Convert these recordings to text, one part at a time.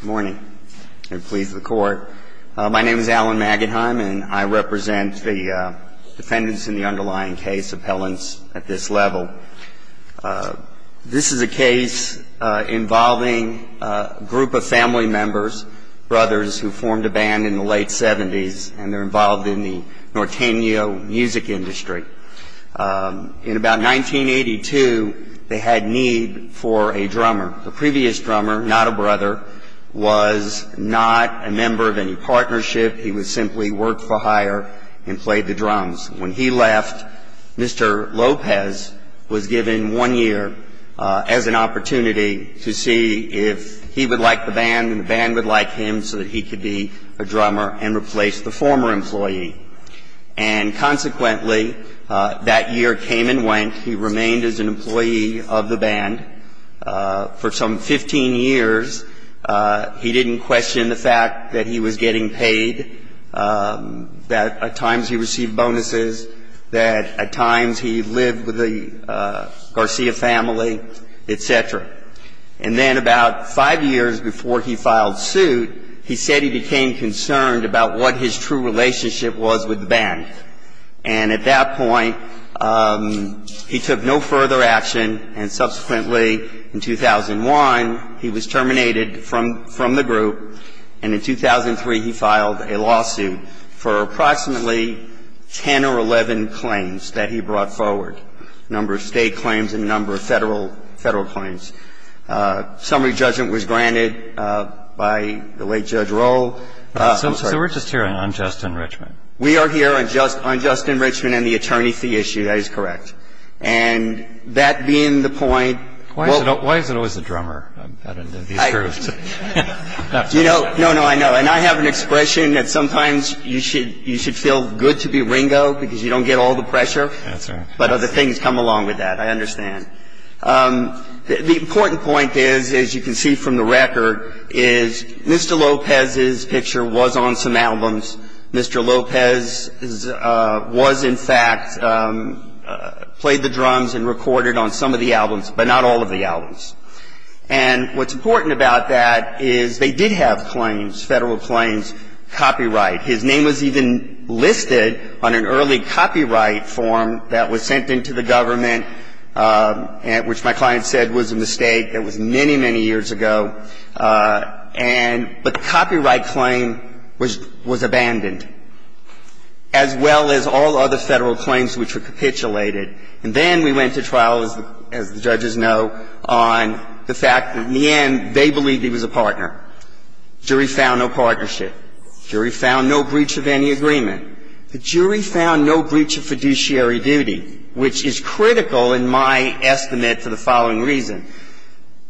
Good morning. My name is Alan Maggetheim and I represent the defendants in the underlying case, appellants at this level. This is a case involving a group of family members, brothers who formed a band in the late 70s and they're involved in the Norteño music industry. In about 1982, they had need for a drummer. The previous drummer, not a brother, was not a member of any partnership. He would simply work for hire and play the drums. When he left, Mr. Lopez was given one year as an opportunity to see if he would like the band and the band would like him so that he could be a drummer and replace the former employee. And consequently, that year came and went. He remained as an employee of the band for some 15 years. He didn't question the fact that he was getting paid, that at times he received bonuses, that at times he lived with the Garcia family, etc. And then about five years before he filed suit, he said he became concerned about what his true relationship was with the band. And at that point, he took no further action and subsequently in 2001, he was terminated from the group. And in 2003, he filed a lawsuit for approximately 10 or 11 claims that he brought forward, a number of state claims and a number of Federal claims. Summary judgment was granted by the late Judge Rohl. I'm sorry. So we're just hearing on Justin Richman. We are hearing on Justin Richman and the attorney fee issue. That is correct. And that being the point, well Why is it always the drummer? You know, no, no, I know. And I have an expression that sometimes you should feel good to be Ringo because you don't get all the pressure. That's right. But other things come along with that. I understand. The important point is, as you can see from the record, is Mr. Lopez's picture was on some albums. Mr. Lopez was in fact played the drums and recorded on some of the albums, but not all of the albums. And what's important about that is they did have claims, Federal claims, copyright. His name was even listed on an early copyright form that was sent into the government, which my client said was a mistake. That was many, many years ago. And the copyright claim was abandoned, as well as all other Federal claims which were capitulated. And then we went to trial, as the judges know, on the fact that in the end, they believed he was a partner. Jury found no partnership. Jury found no breach of any agreement. The jury found no breach of fiduciary duty, which is critical in my estimate for the following reason.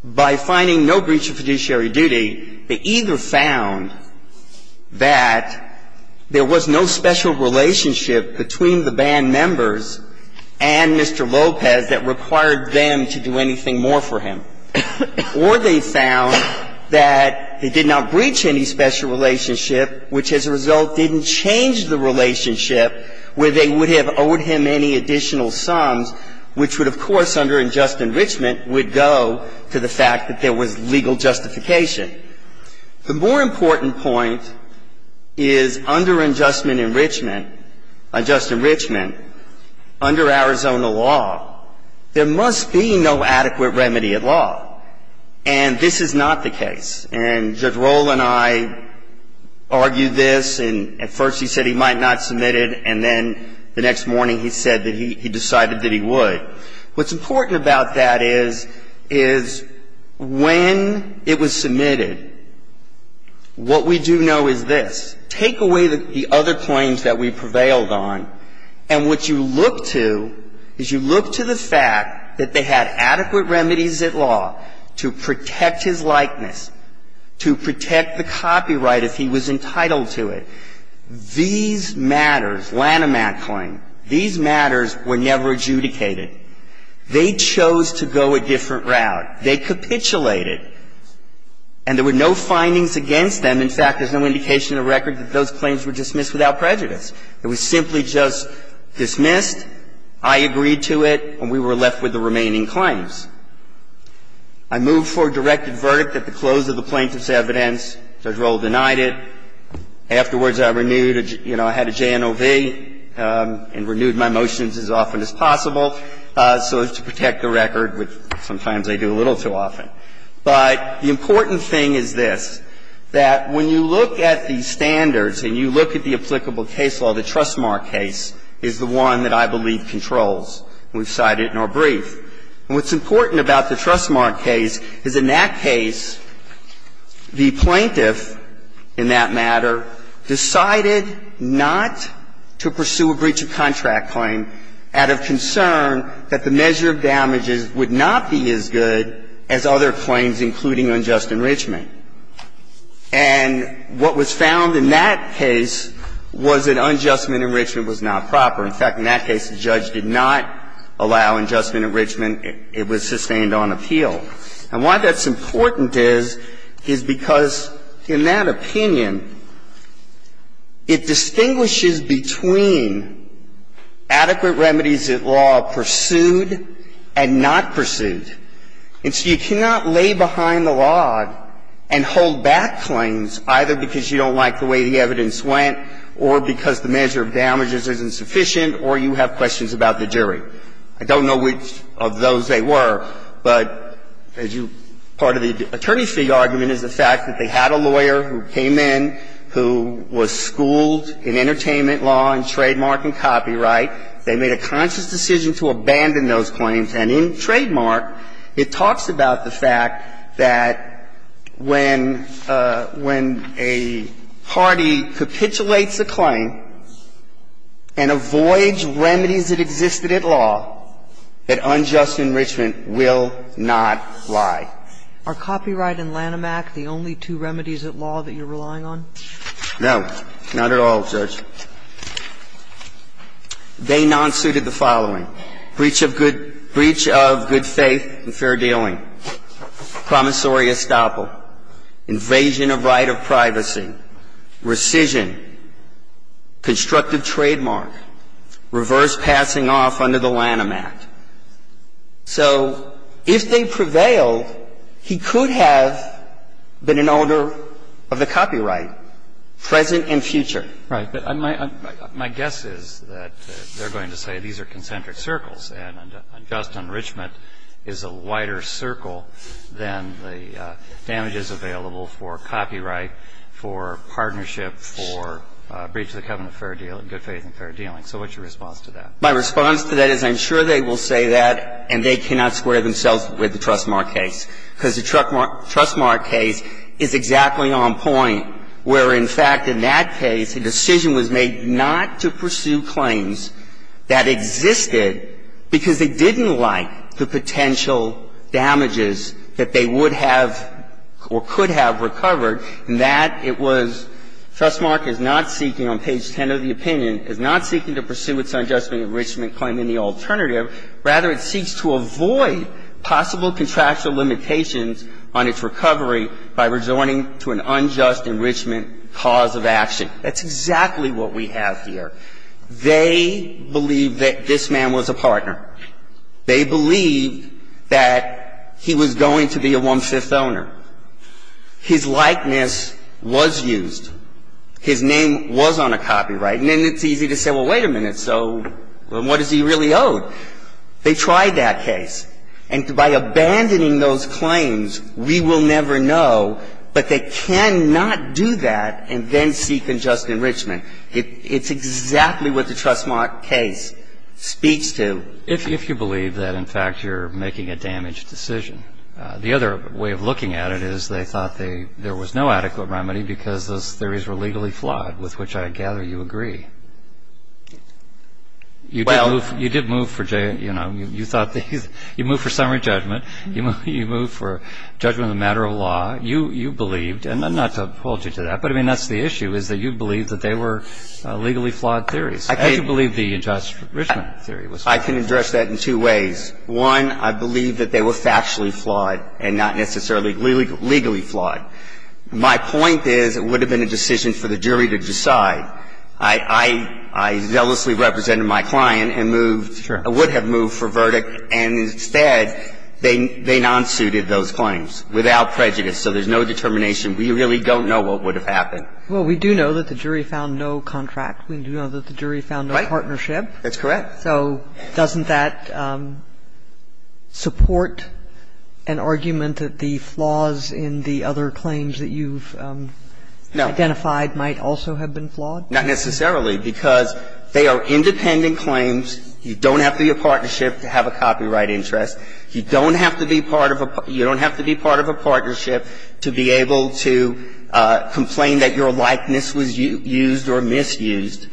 By finding no breach of fiduciary duty, they either found that there was no special relationship between the band members and Mr. Lopez that required them to do anything more for him. Or they found that he did not breach any special relationship, which as a result didn't change the relationship where they would have owed him any additional sums, which would, of course, under unjust enrichment, would go to the fact that there was legal justification. The more important point is under unjust enrichment, unjust enrichment, under Arizona law, there must be no adequate remedy at law. And this is not the case. And Judge Rohl and I argued this, and at first he said he might not submit it, and then the next morning he said that he decided that he would. What's important about that is, is when it was submitted, what we do know is this. Take away the other claims that we prevailed on, and what you look to is you look to the fact that they had adequate remedies at law to protect his likeness, to protect the copyright if he was entitled to it. These matters, Lanham Act claim, these matters were never adjudicated. They chose to go a different route. They capitulated. And there were no findings against them. In fact, there's no indication in the record that those claims were dismissed without prejudice. It was simply just dismissed, I agreed to it, and we were left with the remaining claims. I moved for a directed verdict at the close of the plaintiff's evidence. Judge Rohl denied it. Afterwards, I renewed, you know, I had a JNOV and renewed my motions as often as possible so as to protect the record, which sometimes I do a little too often. But the important thing is this, that when you look at the standards and you look at the applicable case law, the Trustmark case is the one that I believe controls. We've cited it in our brief. And what's important about the Trustmark case is in that case, the plaintiff, in that matter, decided not to pursue a breach of contract claim out of concern that the measure of damages would not be as good as other claims, including unjust enrichment. And what was found in that case was that unjust enrichment was not proper. In fact, in that case, the judge did not allow unjust enrichment. It was sustained on appeal. And why that's important is, is because in that opinion, it distinguishes between adequate remedies that law pursued and not pursued. And so you cannot lay behind the law and hold back claims either because you don't like the way the evidence went or because the measure of damages isn't sufficient or you have questions about the jury. I don't know which of those they were, but as you – part of the attorney fee argument is the fact that they had a lawyer who came in who was schooled in entertainment law and trademark and copyright. They made a conscious decision to abandon those claims. And in Trademark, it talks about the fact that when a party capitulates a claim and avoids remedies that existed at law, that unjust enrichment will not lie. Are copyright and Lanham Act the only two remedies at law that you're relying on? No. Not at all, Judge. They nonsuited the following. Breach of good – breach of good faith and fair dealing. Promissory estoppel. Invasion of right of privacy. Rescission. Constructive trademark. Reverse passing off under the Lanham Act. So if they prevail, he could have been an owner of the copyright, present and future. Right. But my guess is that they're going to say these are concentric circles and unjust enrichment is a wider circle than the damages available for copyright, for partnership, for breach of the covenant of fair deal – good faith and fair dealing. So what's your response to that? My response to that is I'm sure they will say that, and they cannot square themselves with the Trustmark case, because the Trustmark case is exactly on point, where, in fact, in that case, a decision was made not to pursue claims that existed because they didn't like the potential damages that they would have or could have recovered, and that it was – Trustmark is not seeking, on page 10 of the opinion, is not seeking to pursue its unjust enrichment claim in the alternative. Rather, it seeks to avoid possible contractual limitations on its recovery by resorting to an unjust enrichment cause of action. That's exactly what we have here. They believe that this man was a partner. They believe that he was going to be a one-fifth owner. His likeness was used. His name was on a copyright. And then it's easy to say, well, wait a minute. So what is he really owed? They tried that case. And by abandoning those claims, we will never know. But they cannot do that and then seek unjust enrichment. It's exactly what the Trustmark case speaks to. If you believe that, in fact, you're making a damaged decision. The other way of looking at it is they thought they – there was no adequate remedy because those theories were legally flawed, with which I gather you agree. You did move for – you thought – you moved for summary judgment. You moved for judgment of the matter of law. You believed – and not to hold you to that, but, I mean, that's the issue, is that you believe that they were legally flawed theories. How do you believe the unjust enrichment theory was flawed? I can address that in two ways. One, I believe that they were factually flawed and not necessarily legally flawed. My point is it would have been a decision for the jury to decide. I – I – I zealously represented my client and moved – Sure. I would have moved for verdict. And instead, they – they non-suited those claims without prejudice. So there's no determination. We really don't know what would have happened. Well, we do know that the jury found no contract. We do know that the jury found no partnership. Right. That's correct. So doesn't that support an argument that the flaws in the other claims that you've identified might also have been flawed? Not necessarily, because they are independent claims. You don't have to be a partnership to have a copyright interest. You don't have to be part of a – you don't have to be part of a partnership to be able to complain that your likeness was used or misused.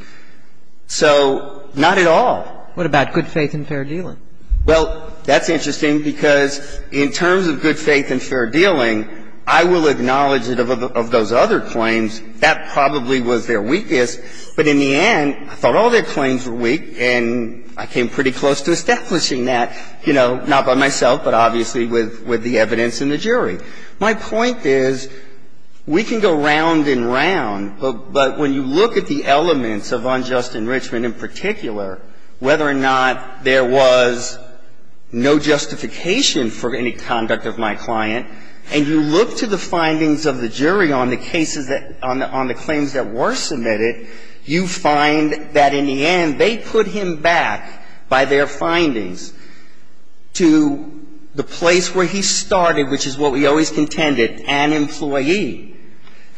So not at all. What about good faith and fair dealing? Well, that's interesting, because in terms of good faith and fair dealing, I will acknowledge that of those other claims, that probably was their weakest. But in the end, I thought all their claims were weak, and I came pretty close to establishing that, you know, not by myself, but obviously with – with the evidence in the jury. My point is, we can go round and round, but when you look at the elements of unjust enrichment in particular, whether or not there was no justification for any conduct of my client, and you look to the findings of the jury on the cases that – on the claims that were submitted, you find that in the end, they put him back by their claim that he was always contended, an employee.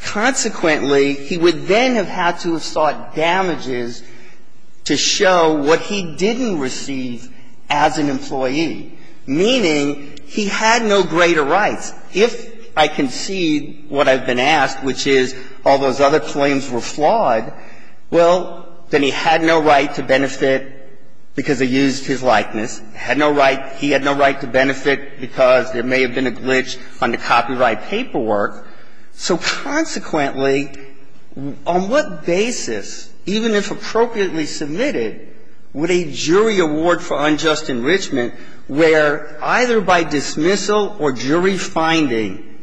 Consequently, he would then have had to have sought damages to show what he didn't receive as an employee, meaning he had no greater rights. If I concede what I've been asked, which is all those other claims were flawed, well, then he had no right to benefit because they used his likeness. He had no right – he had no right to benefit because there may have been a glitch on the copyright paperwork. So consequently, on what basis, even if appropriately submitted, would a jury award for unjust enrichment, where either by dismissal or jury finding,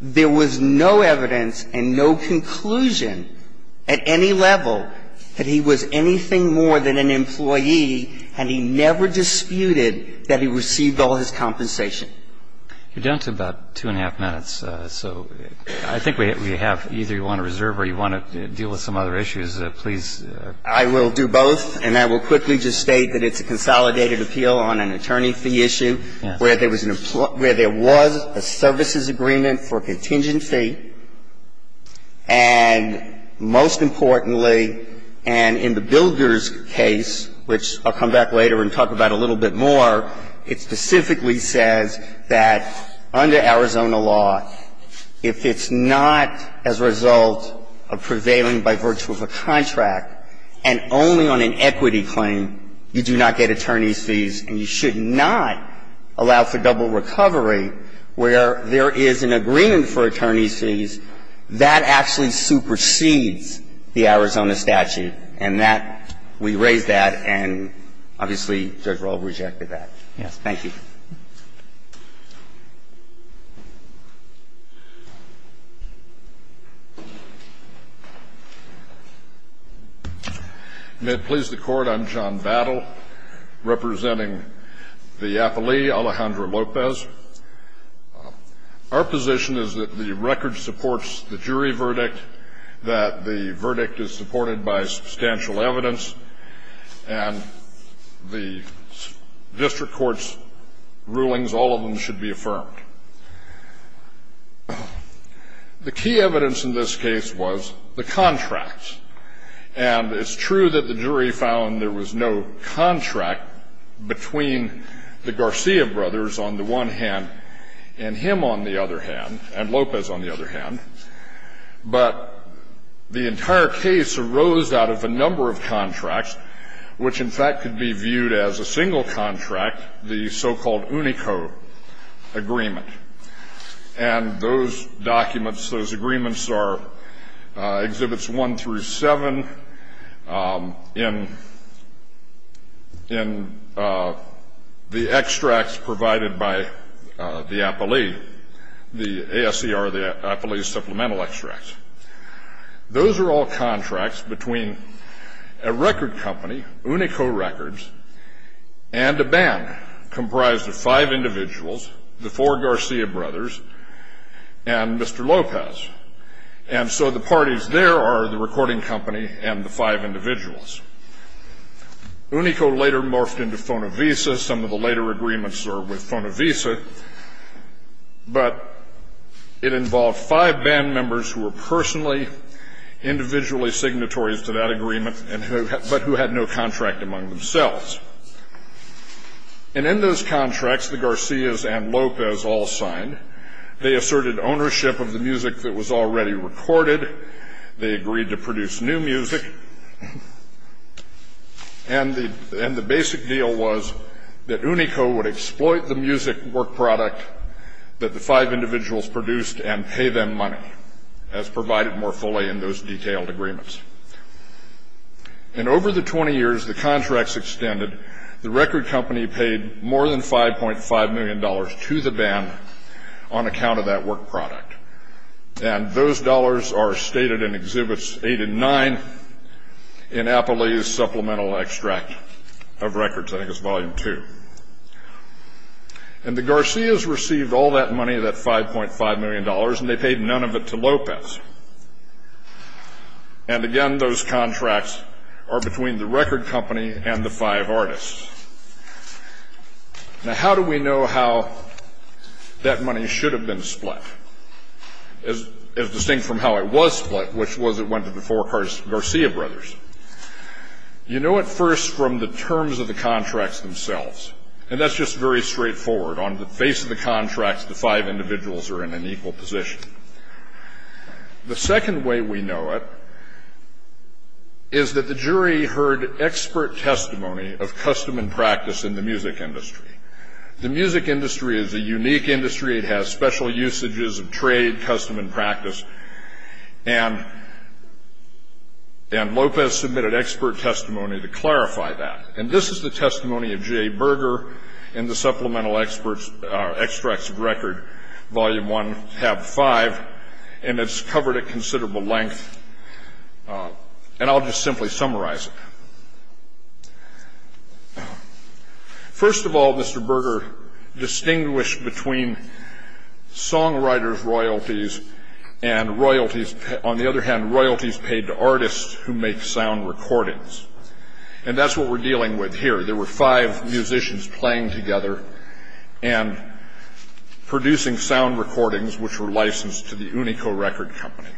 there was no evidence and no conclusion at any level that he was anything more than an employee, and he never disputed that he received all his compensation? You're down to about two and a half minutes. So I think we have – either you want to reserve or you want to deal with some other issues, please. I will do both. And I will quickly just state that it's a consolidated appeal on an attorney fee issue where there was an – where there was a services agreement for contingent fee, and most importantly, and in the Builder's case, which I'll come back later and talk about a little bit more, it specifically says that under Arizona law, if it's not as a result of prevailing by virtue of a contract and only on an equity claim, you do not get attorney's fees and you should not allow for double recovery where there is an agreement for attorney's fees. That actually supersedes the Arizona statute. And that – we raise that, and obviously, Judge Rohl rejected that. Thank you. May it please the Court, I'm John Battle, representing the affilee, Alejandra Lopez. Our position is that the record supports the jury verdict, that the verdict is supported by substantial evidence, and the district court's position is that the record should be affirmed. The key evidence in this case was the contract. And it's true that the jury found there was no contract between the Garcia brothers on the one hand and him on the other hand, and Lopez on the other hand. But the entire case arose out of a number of contracts, which, in fact, could be viewed as a single contract, the so-called UNICO agreement. And those documents, those agreements are Exhibits 1 through 7 in the extracts provided by the affilee, the ASER, the affilee's supplemental extracts. Those are all contracts between a record company, UNICO Records, and a band comprised of five individuals, the four Garcia brothers and Mr. Lopez. And so the parties there are the recording company and the five individuals. UNICO later morphed into Fonavisa. Some of the later agreements are with Fonavisa. But it involved five band members who were personally, individually signatories to that agreement, but who had no contract among themselves. And in those contracts, the Garcias and Lopez all signed. They asserted ownership of the music that was already recorded. They agreed to produce new music. And the basic deal was that UNICO would exploit the music work product that the five individuals produced and pay them money, as provided more fully in those detailed agreements. And over the 20 years the contracts extended, the record company paid more than $5.5 million to the band on account of that work product. And those dollars are stated in Exhibits 8 and 9 in Apolli's Supplemental Extract of Records, I think it's Volume 2. And the Garcias received all that money, that $5.5 million, and they paid none of it to Lopez. And again, those contracts are between the record company and the five artists. Now, how do we know how that money should have been split, as distinct from how it was split, which was it went to the four Garcia brothers? You know it first from the terms of the contracts themselves. And that's just very straightforward. On the face of the contracts, the five individuals are in an equal position. The second way we know it is that the jury heard expert testimony of custom and practice in the music industry. The music industry is a unique industry. It has special usages of trade, custom, and practice. And Lopez submitted expert testimony to clarify that. And this is the testimony of Jay Berger in the Supplemental Extracts of Records, Volume 1, Hab 5. And it's covered at considerable length. And I'll just simply summarize it. First of all, Mr. Berger distinguished between songwriters' royalties and royalties, on the other hand, royalties paid to artists who make sound recordings. And that's what we're dealing with here. There were five musicians playing together and producing sound recordings which were licensed to the Unico Record Company.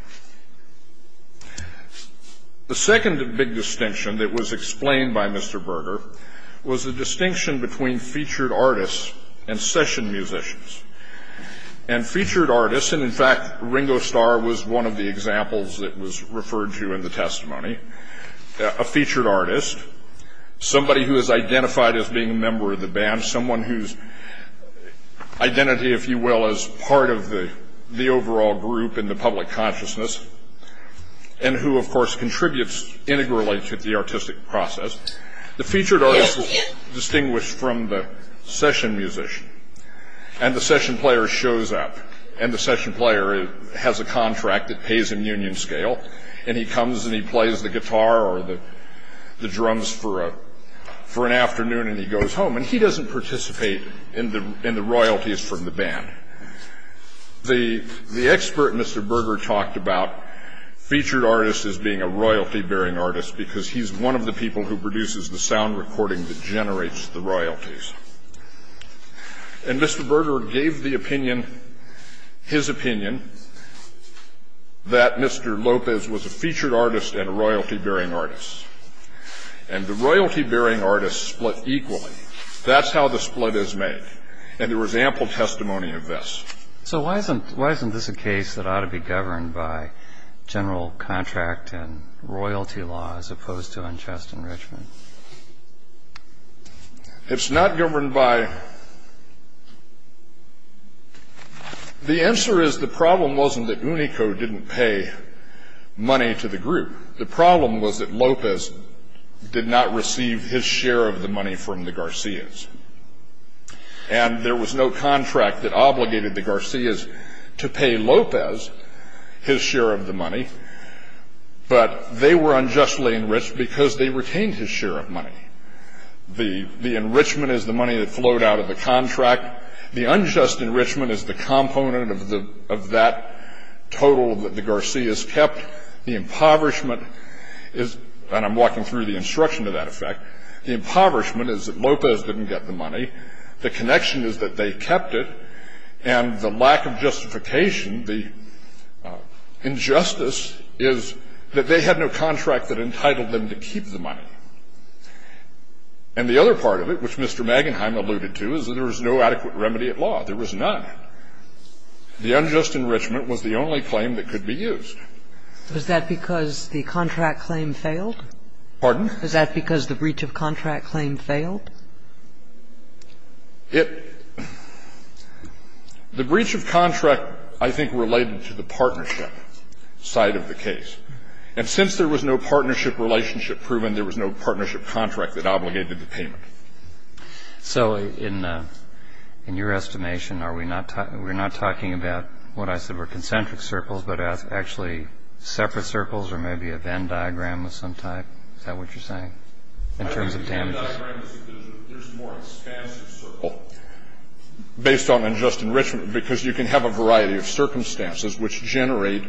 The second big distinction that was explained by Mr. Berger was the distinction between featured artists and session musicians. And featured artists, and in fact Ringo Starr was one of the examples that was referred to in the testimony, a featured artist, somebody who is identified as being a member of the band, someone whose identity, if you will, is part of the overall group in the public consciousness, and who, of course, contributes integrally to the artistic process. The featured artist was distinguished from the session musician. And the session player shows up. And the session player has a contract that pays him union scale. And he comes and he plays the guitar or the drums for an afternoon and he goes home. And he doesn't participate in the royalties from the band. The expert Mr. Berger talked about featured artists as being a royalty-bearing artist because he's one of the people who produces the sound recording that generates the royalties. And Mr. Berger gave the opinion, his opinion, that Mr. Lopez was a featured artist and a royalty-bearing artist. And the royalty-bearing artists split equally. That's how the split is made. And there was ample testimony of this. So why isn't this a case that ought to be governed by general contract and royalty law as opposed to unjust enrichment? It's not governed by... The answer is the problem wasn't that Unico didn't pay money to the group. The problem was that Lopez did not receive his share of the money from the Garcias. And there was no contract that obligated the Garcias to pay Lopez his share of the money. But they were unjustly enriched because they retained his share of money. The enrichment is the money that flowed out of the contract. The unjust enrichment is the component of that total that the Garcias kept. The impoverishment is... And I'm walking through the instruction to that effect. The impoverishment is that Lopez didn't get the money. The connection is that they kept it. And the lack of justification, the injustice, is that they had no contract that entitled them to keep the money. And the other part of it, which Mr. Magenheim alluded to, is that there was no adequate remedy at law. There was none. The unjust enrichment was the only claim that could be used. Was that because the contract claim failed? Pardon? Was that because the breach of contract claim failed? The breach of contract, I think, related to the partnership side of the case. And since there was no partnership relationship proven, there was no partnership contract that obligated the payment. So in your estimation, are we not talking about what I said were concentric circles, but actually separate circles or maybe a Venn diagram of some type? Is that what you're saying in terms of damages? The Venn diagram is that there's a more expansive circle based on unjust enrichment, because you can have a variety of circumstances which generate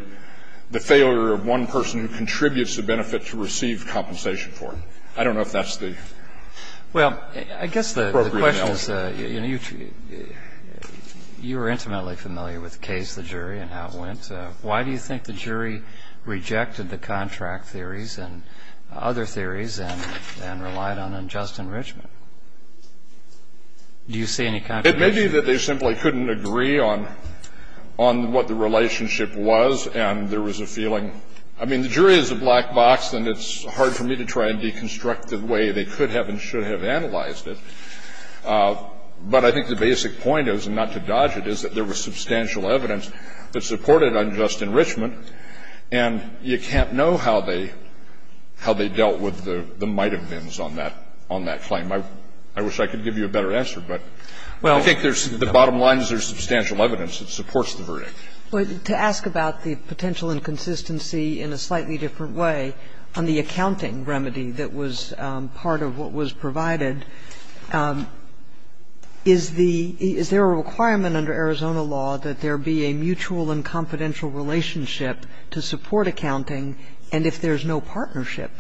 the failure of one person who contributes the benefit to receive compensation for it. I don't know if that's the appropriate analogy. Well, I guess the question is, you know, you were intimately familiar with the case, the jury, and how it went. Why do you think the jury rejected the contract theories and other theories and relied on unjust enrichment? Do you see any contradiction? It may be that they simply couldn't agree on what the relationship was, and there was a feeling. I mean, the jury is a black box, and it's hard for me to try and deconstruct the way they could have and should have analyzed it. But I think the basic point is, and not to dodge it, is that there was substantial evidence that supported unjust enrichment, and you can't know how they dealt with the might of Venns on that claim. I wish I could give you a better answer, but I think there's the bottom line is there's substantial evidence that supports the verdict. But to ask about the potential inconsistency in a slightly different way on the accounting remedy that was part of what was provided, is there a requirement under Arizona law that there be a mutual and confidential relationship to support accounting? And if there's no partnership,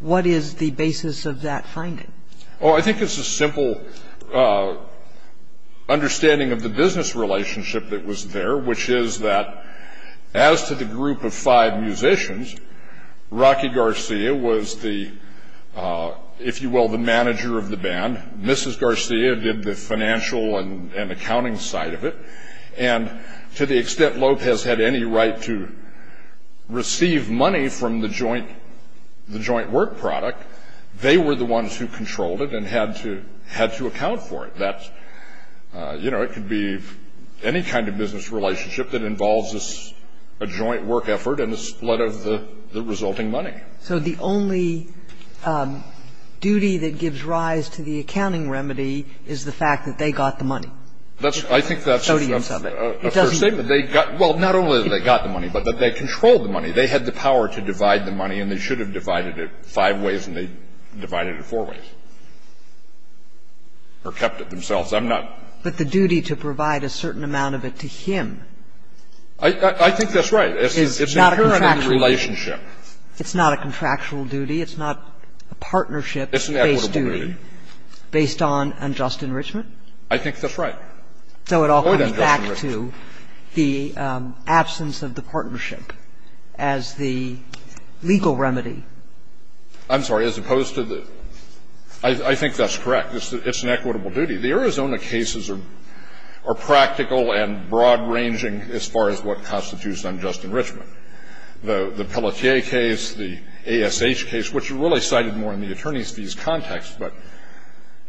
what is the basis of that finding? Oh, I think it's a simple understanding of the business relationship that was there, which is that as to the group of five musicians, Rocky Garcia was the, if you will, the manager of the band. Mrs. Garcia did the financial and accounting side of it. And to the extent Lopez had any right to receive money from the joint work product, they were the ones who controlled it and had to account for it. That's, you know, it could be any kind of business relationship that involves a joint work effort and a split of the resulting money. So the only duty that gives rise to the accounting remedy is the fact that they got the money. I think that's a first statement. Well, not only that they got the money, but that they controlled the money. They had the power to divide the money, and they should have divided it five ways and they divided it four ways or kept it themselves. I'm not. But the duty to provide a certain amount of it to him is not a contractual duty. I think that's right. It's not a contractual duty. It's not a contractual duty. It's not a partnership-based duty. It's an equitable duty. Based on unjust enrichment? I think that's right. So it all comes back to the absence of the partnership as the legal remedy. I'm sorry. As opposed to the – I think that's correct. It's an equitable duty. The Arizona cases are practical and broad-ranging as far as what constitutes unjust enrichment. The Pelletier case, the ASH case, which are really cited more in the attorney's fees context, but –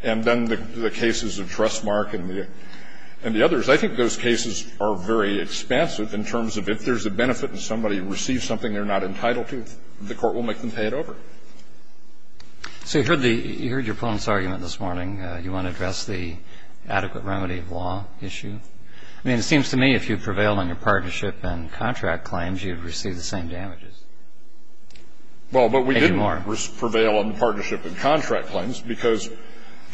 and then the cases of Trestmark and the others. I think those cases are very expansive in terms of if there's a benefit and somebody receives something they're not entitled to, the court will make them pay it over. So you heard the – you heard your opponent's argument this morning. You want to address the adequate remedy of law issue? I mean, it seems to me if you prevail on your partnership and contract claims, you'd receive the same damages. Well, but we didn't prevail on partnership and contract claims because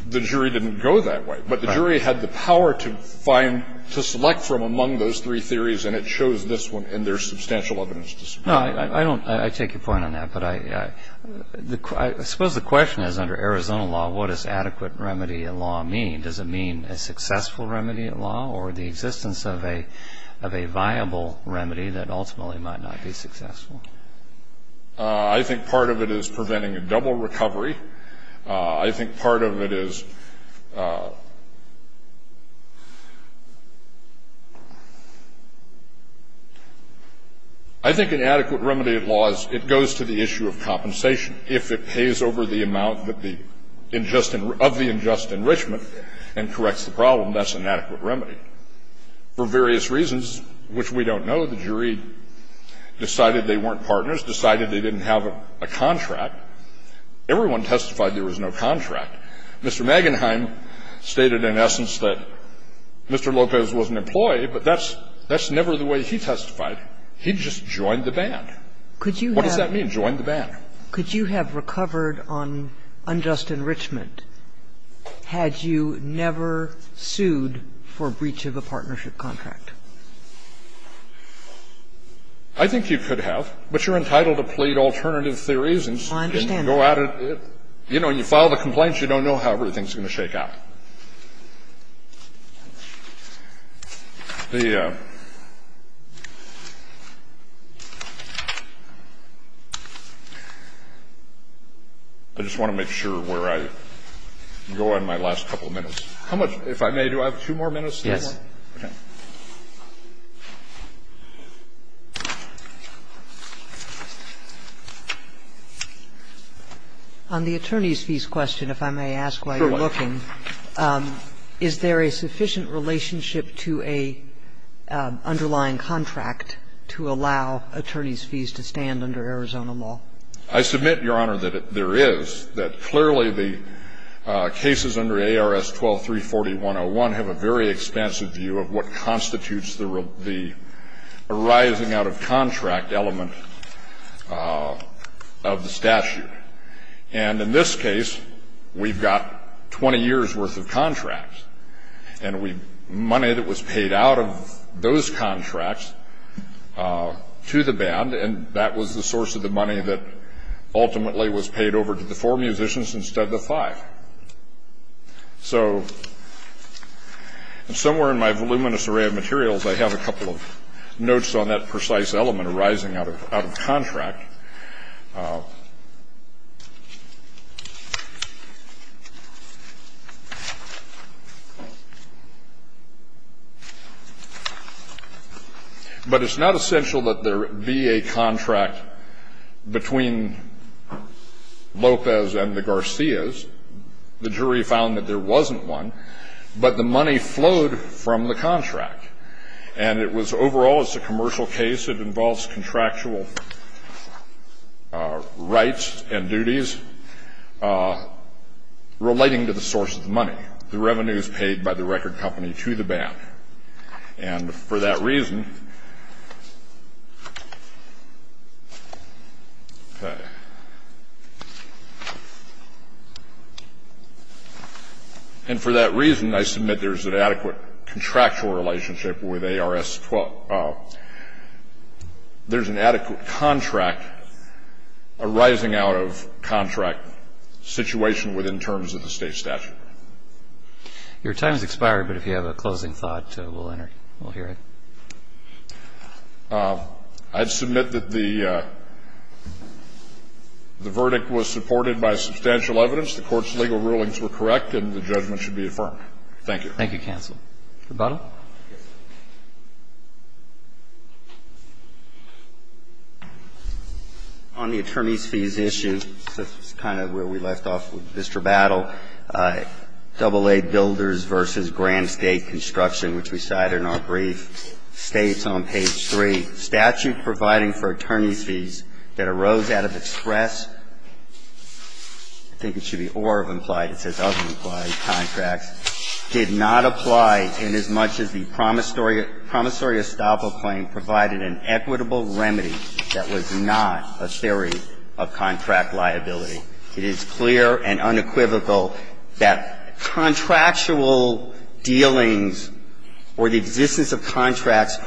the jury didn't go that way. But the jury had the power to find – to select from among those three theories, and it shows this one, and there's substantial evidence to support it. No, I don't – I take your point on that. But I – I suppose the question is under Arizona law, what does adequate remedy of law mean? Does it mean a successful remedy of law or the existence of a viable remedy that ultimately might not be successful? I think part of it is preventing a double recovery. I think part of it is – I think an adequate remedy of law is it goes to the issue of compensation. If it pays over the amount that the – of the unjust enrichment and corrects the problem, that's an adequate remedy. For various reasons, which we don't know, the jury decided they weren't partners, decided they didn't have a contract. Now, if you look at Mr. Lopez's case, there was no contract. Everyone testified there was no contract. Mr. Magenheim stated in essence that Mr. Lopez was an employee, but that's – that's never the way he testified. He just joined the band. What does that mean, joined the band? Could you have recovered on unjust enrichment had you never sued for breach of a partnership contract? I think you could have, but you're entitled to plead alternative theories and go out and – you know, when you file the complaints, you don't know how everything is going to shake out. The – I just want to make sure where I go in my last couple of minutes. How much – if I may, do I have two more minutes? Yes. Okay. On the attorneys' fees question, if I may ask why you're looking, is there a sufficient relationship to an underlying contract to allow attorneys' fees to stand under Arizona law? I submit, Your Honor, that there is. the cases under ARS 12-340-101 have a very expansive view of what constitutes the arising out-of-contract element of the statute. And in this case, we've got 20 years' worth of contracts. And we – money that was paid out of those contracts to the band, and that was the musicians instead of the five. So somewhere in my voluminous array of materials, I have a couple of notes on that precise element arising out-of-contract. But it's not essential that there be a contract between Lopez and the Garcias. The jury found that there wasn't one, but the money flowed from the contract. And it was – overall, it's a commercial case. It involves contractual fees. It involves rights and duties relating to the source of the money, the revenues paid by the record company to the band. And for that reason – okay. And for that reason, I submit there is an adequate contractual relationship with ARS-12. There's an adequate contract arising out-of-contract situation within terms of the State statute. Your time has expired, but if you have a closing thought, we'll enter it. We'll hear it. I'd submit that the verdict was supported by substantial evidence. The Court's legal rulings were correct, and the judgment should be affirmed. Thank you. Thank you, counsel. Mr. Battle? Yes. On the attorneys' fees issue, this is kind of where we left off with Mr. Battle, AA Builders v. Grand State Construction, which we cited in our brief, states on page 3, statute providing for attorneys' fees that arose out of express – I think It says that the State statute provides in as much as the promissory estoppel claim provided an equitable remedy that was not a theory of contract liability. It is clear and unequivocal that contractual dealings or the existence of contracts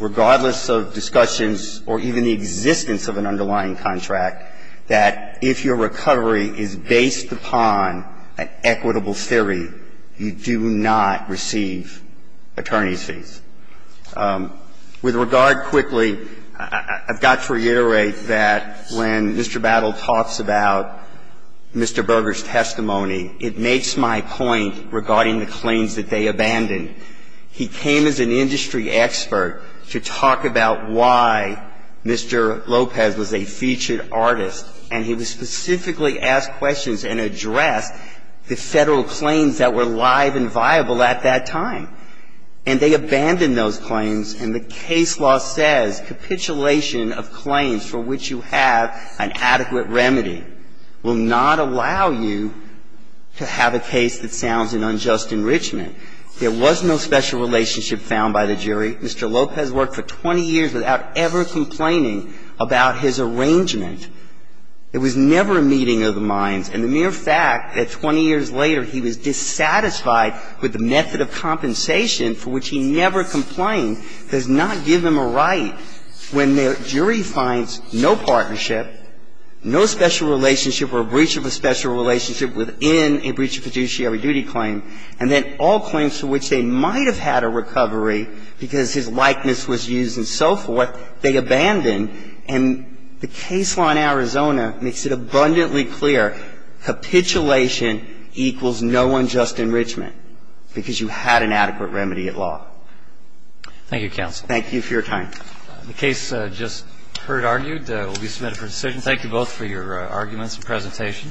regardless of discussions or even the existence of an underlying contract, that if your recovery is based upon an equitable theory, you do not receive attorneys' fees. With regard, quickly, I've got to reiterate that when Mr. Battle talks about Mr. Berger's why Mr. Lopez was a featured artist, and he was specifically asked questions and addressed the Federal claims that were live and viable at that time. And they abandoned those claims, and the case law says capitulation of claims for which you have an adequate remedy will not allow you to have a case that sounds an unjust enrichment. There was no special relationship found by the jury. Mr. Lopez worked for 20 years without ever complaining about his arrangement. It was never a meeting of the minds. And the mere fact that 20 years later he was dissatisfied with the method of compensation for which he never complained does not give him a right when the jury finds no partnership, no special relationship or a breach of a special relationship within a breach of a special relationship. So the Federal claims to which they might have had a recovery because his likeness was used and so forth, they abandoned. And the case law in Arizona makes it abundantly clear, capitulation equals no unjust enrichment because you had an adequate remedy at law. Thank you, counsel. Thank you for your time. The case just heard argued will be submitted for decision. Thank you both for your arguments and presentation.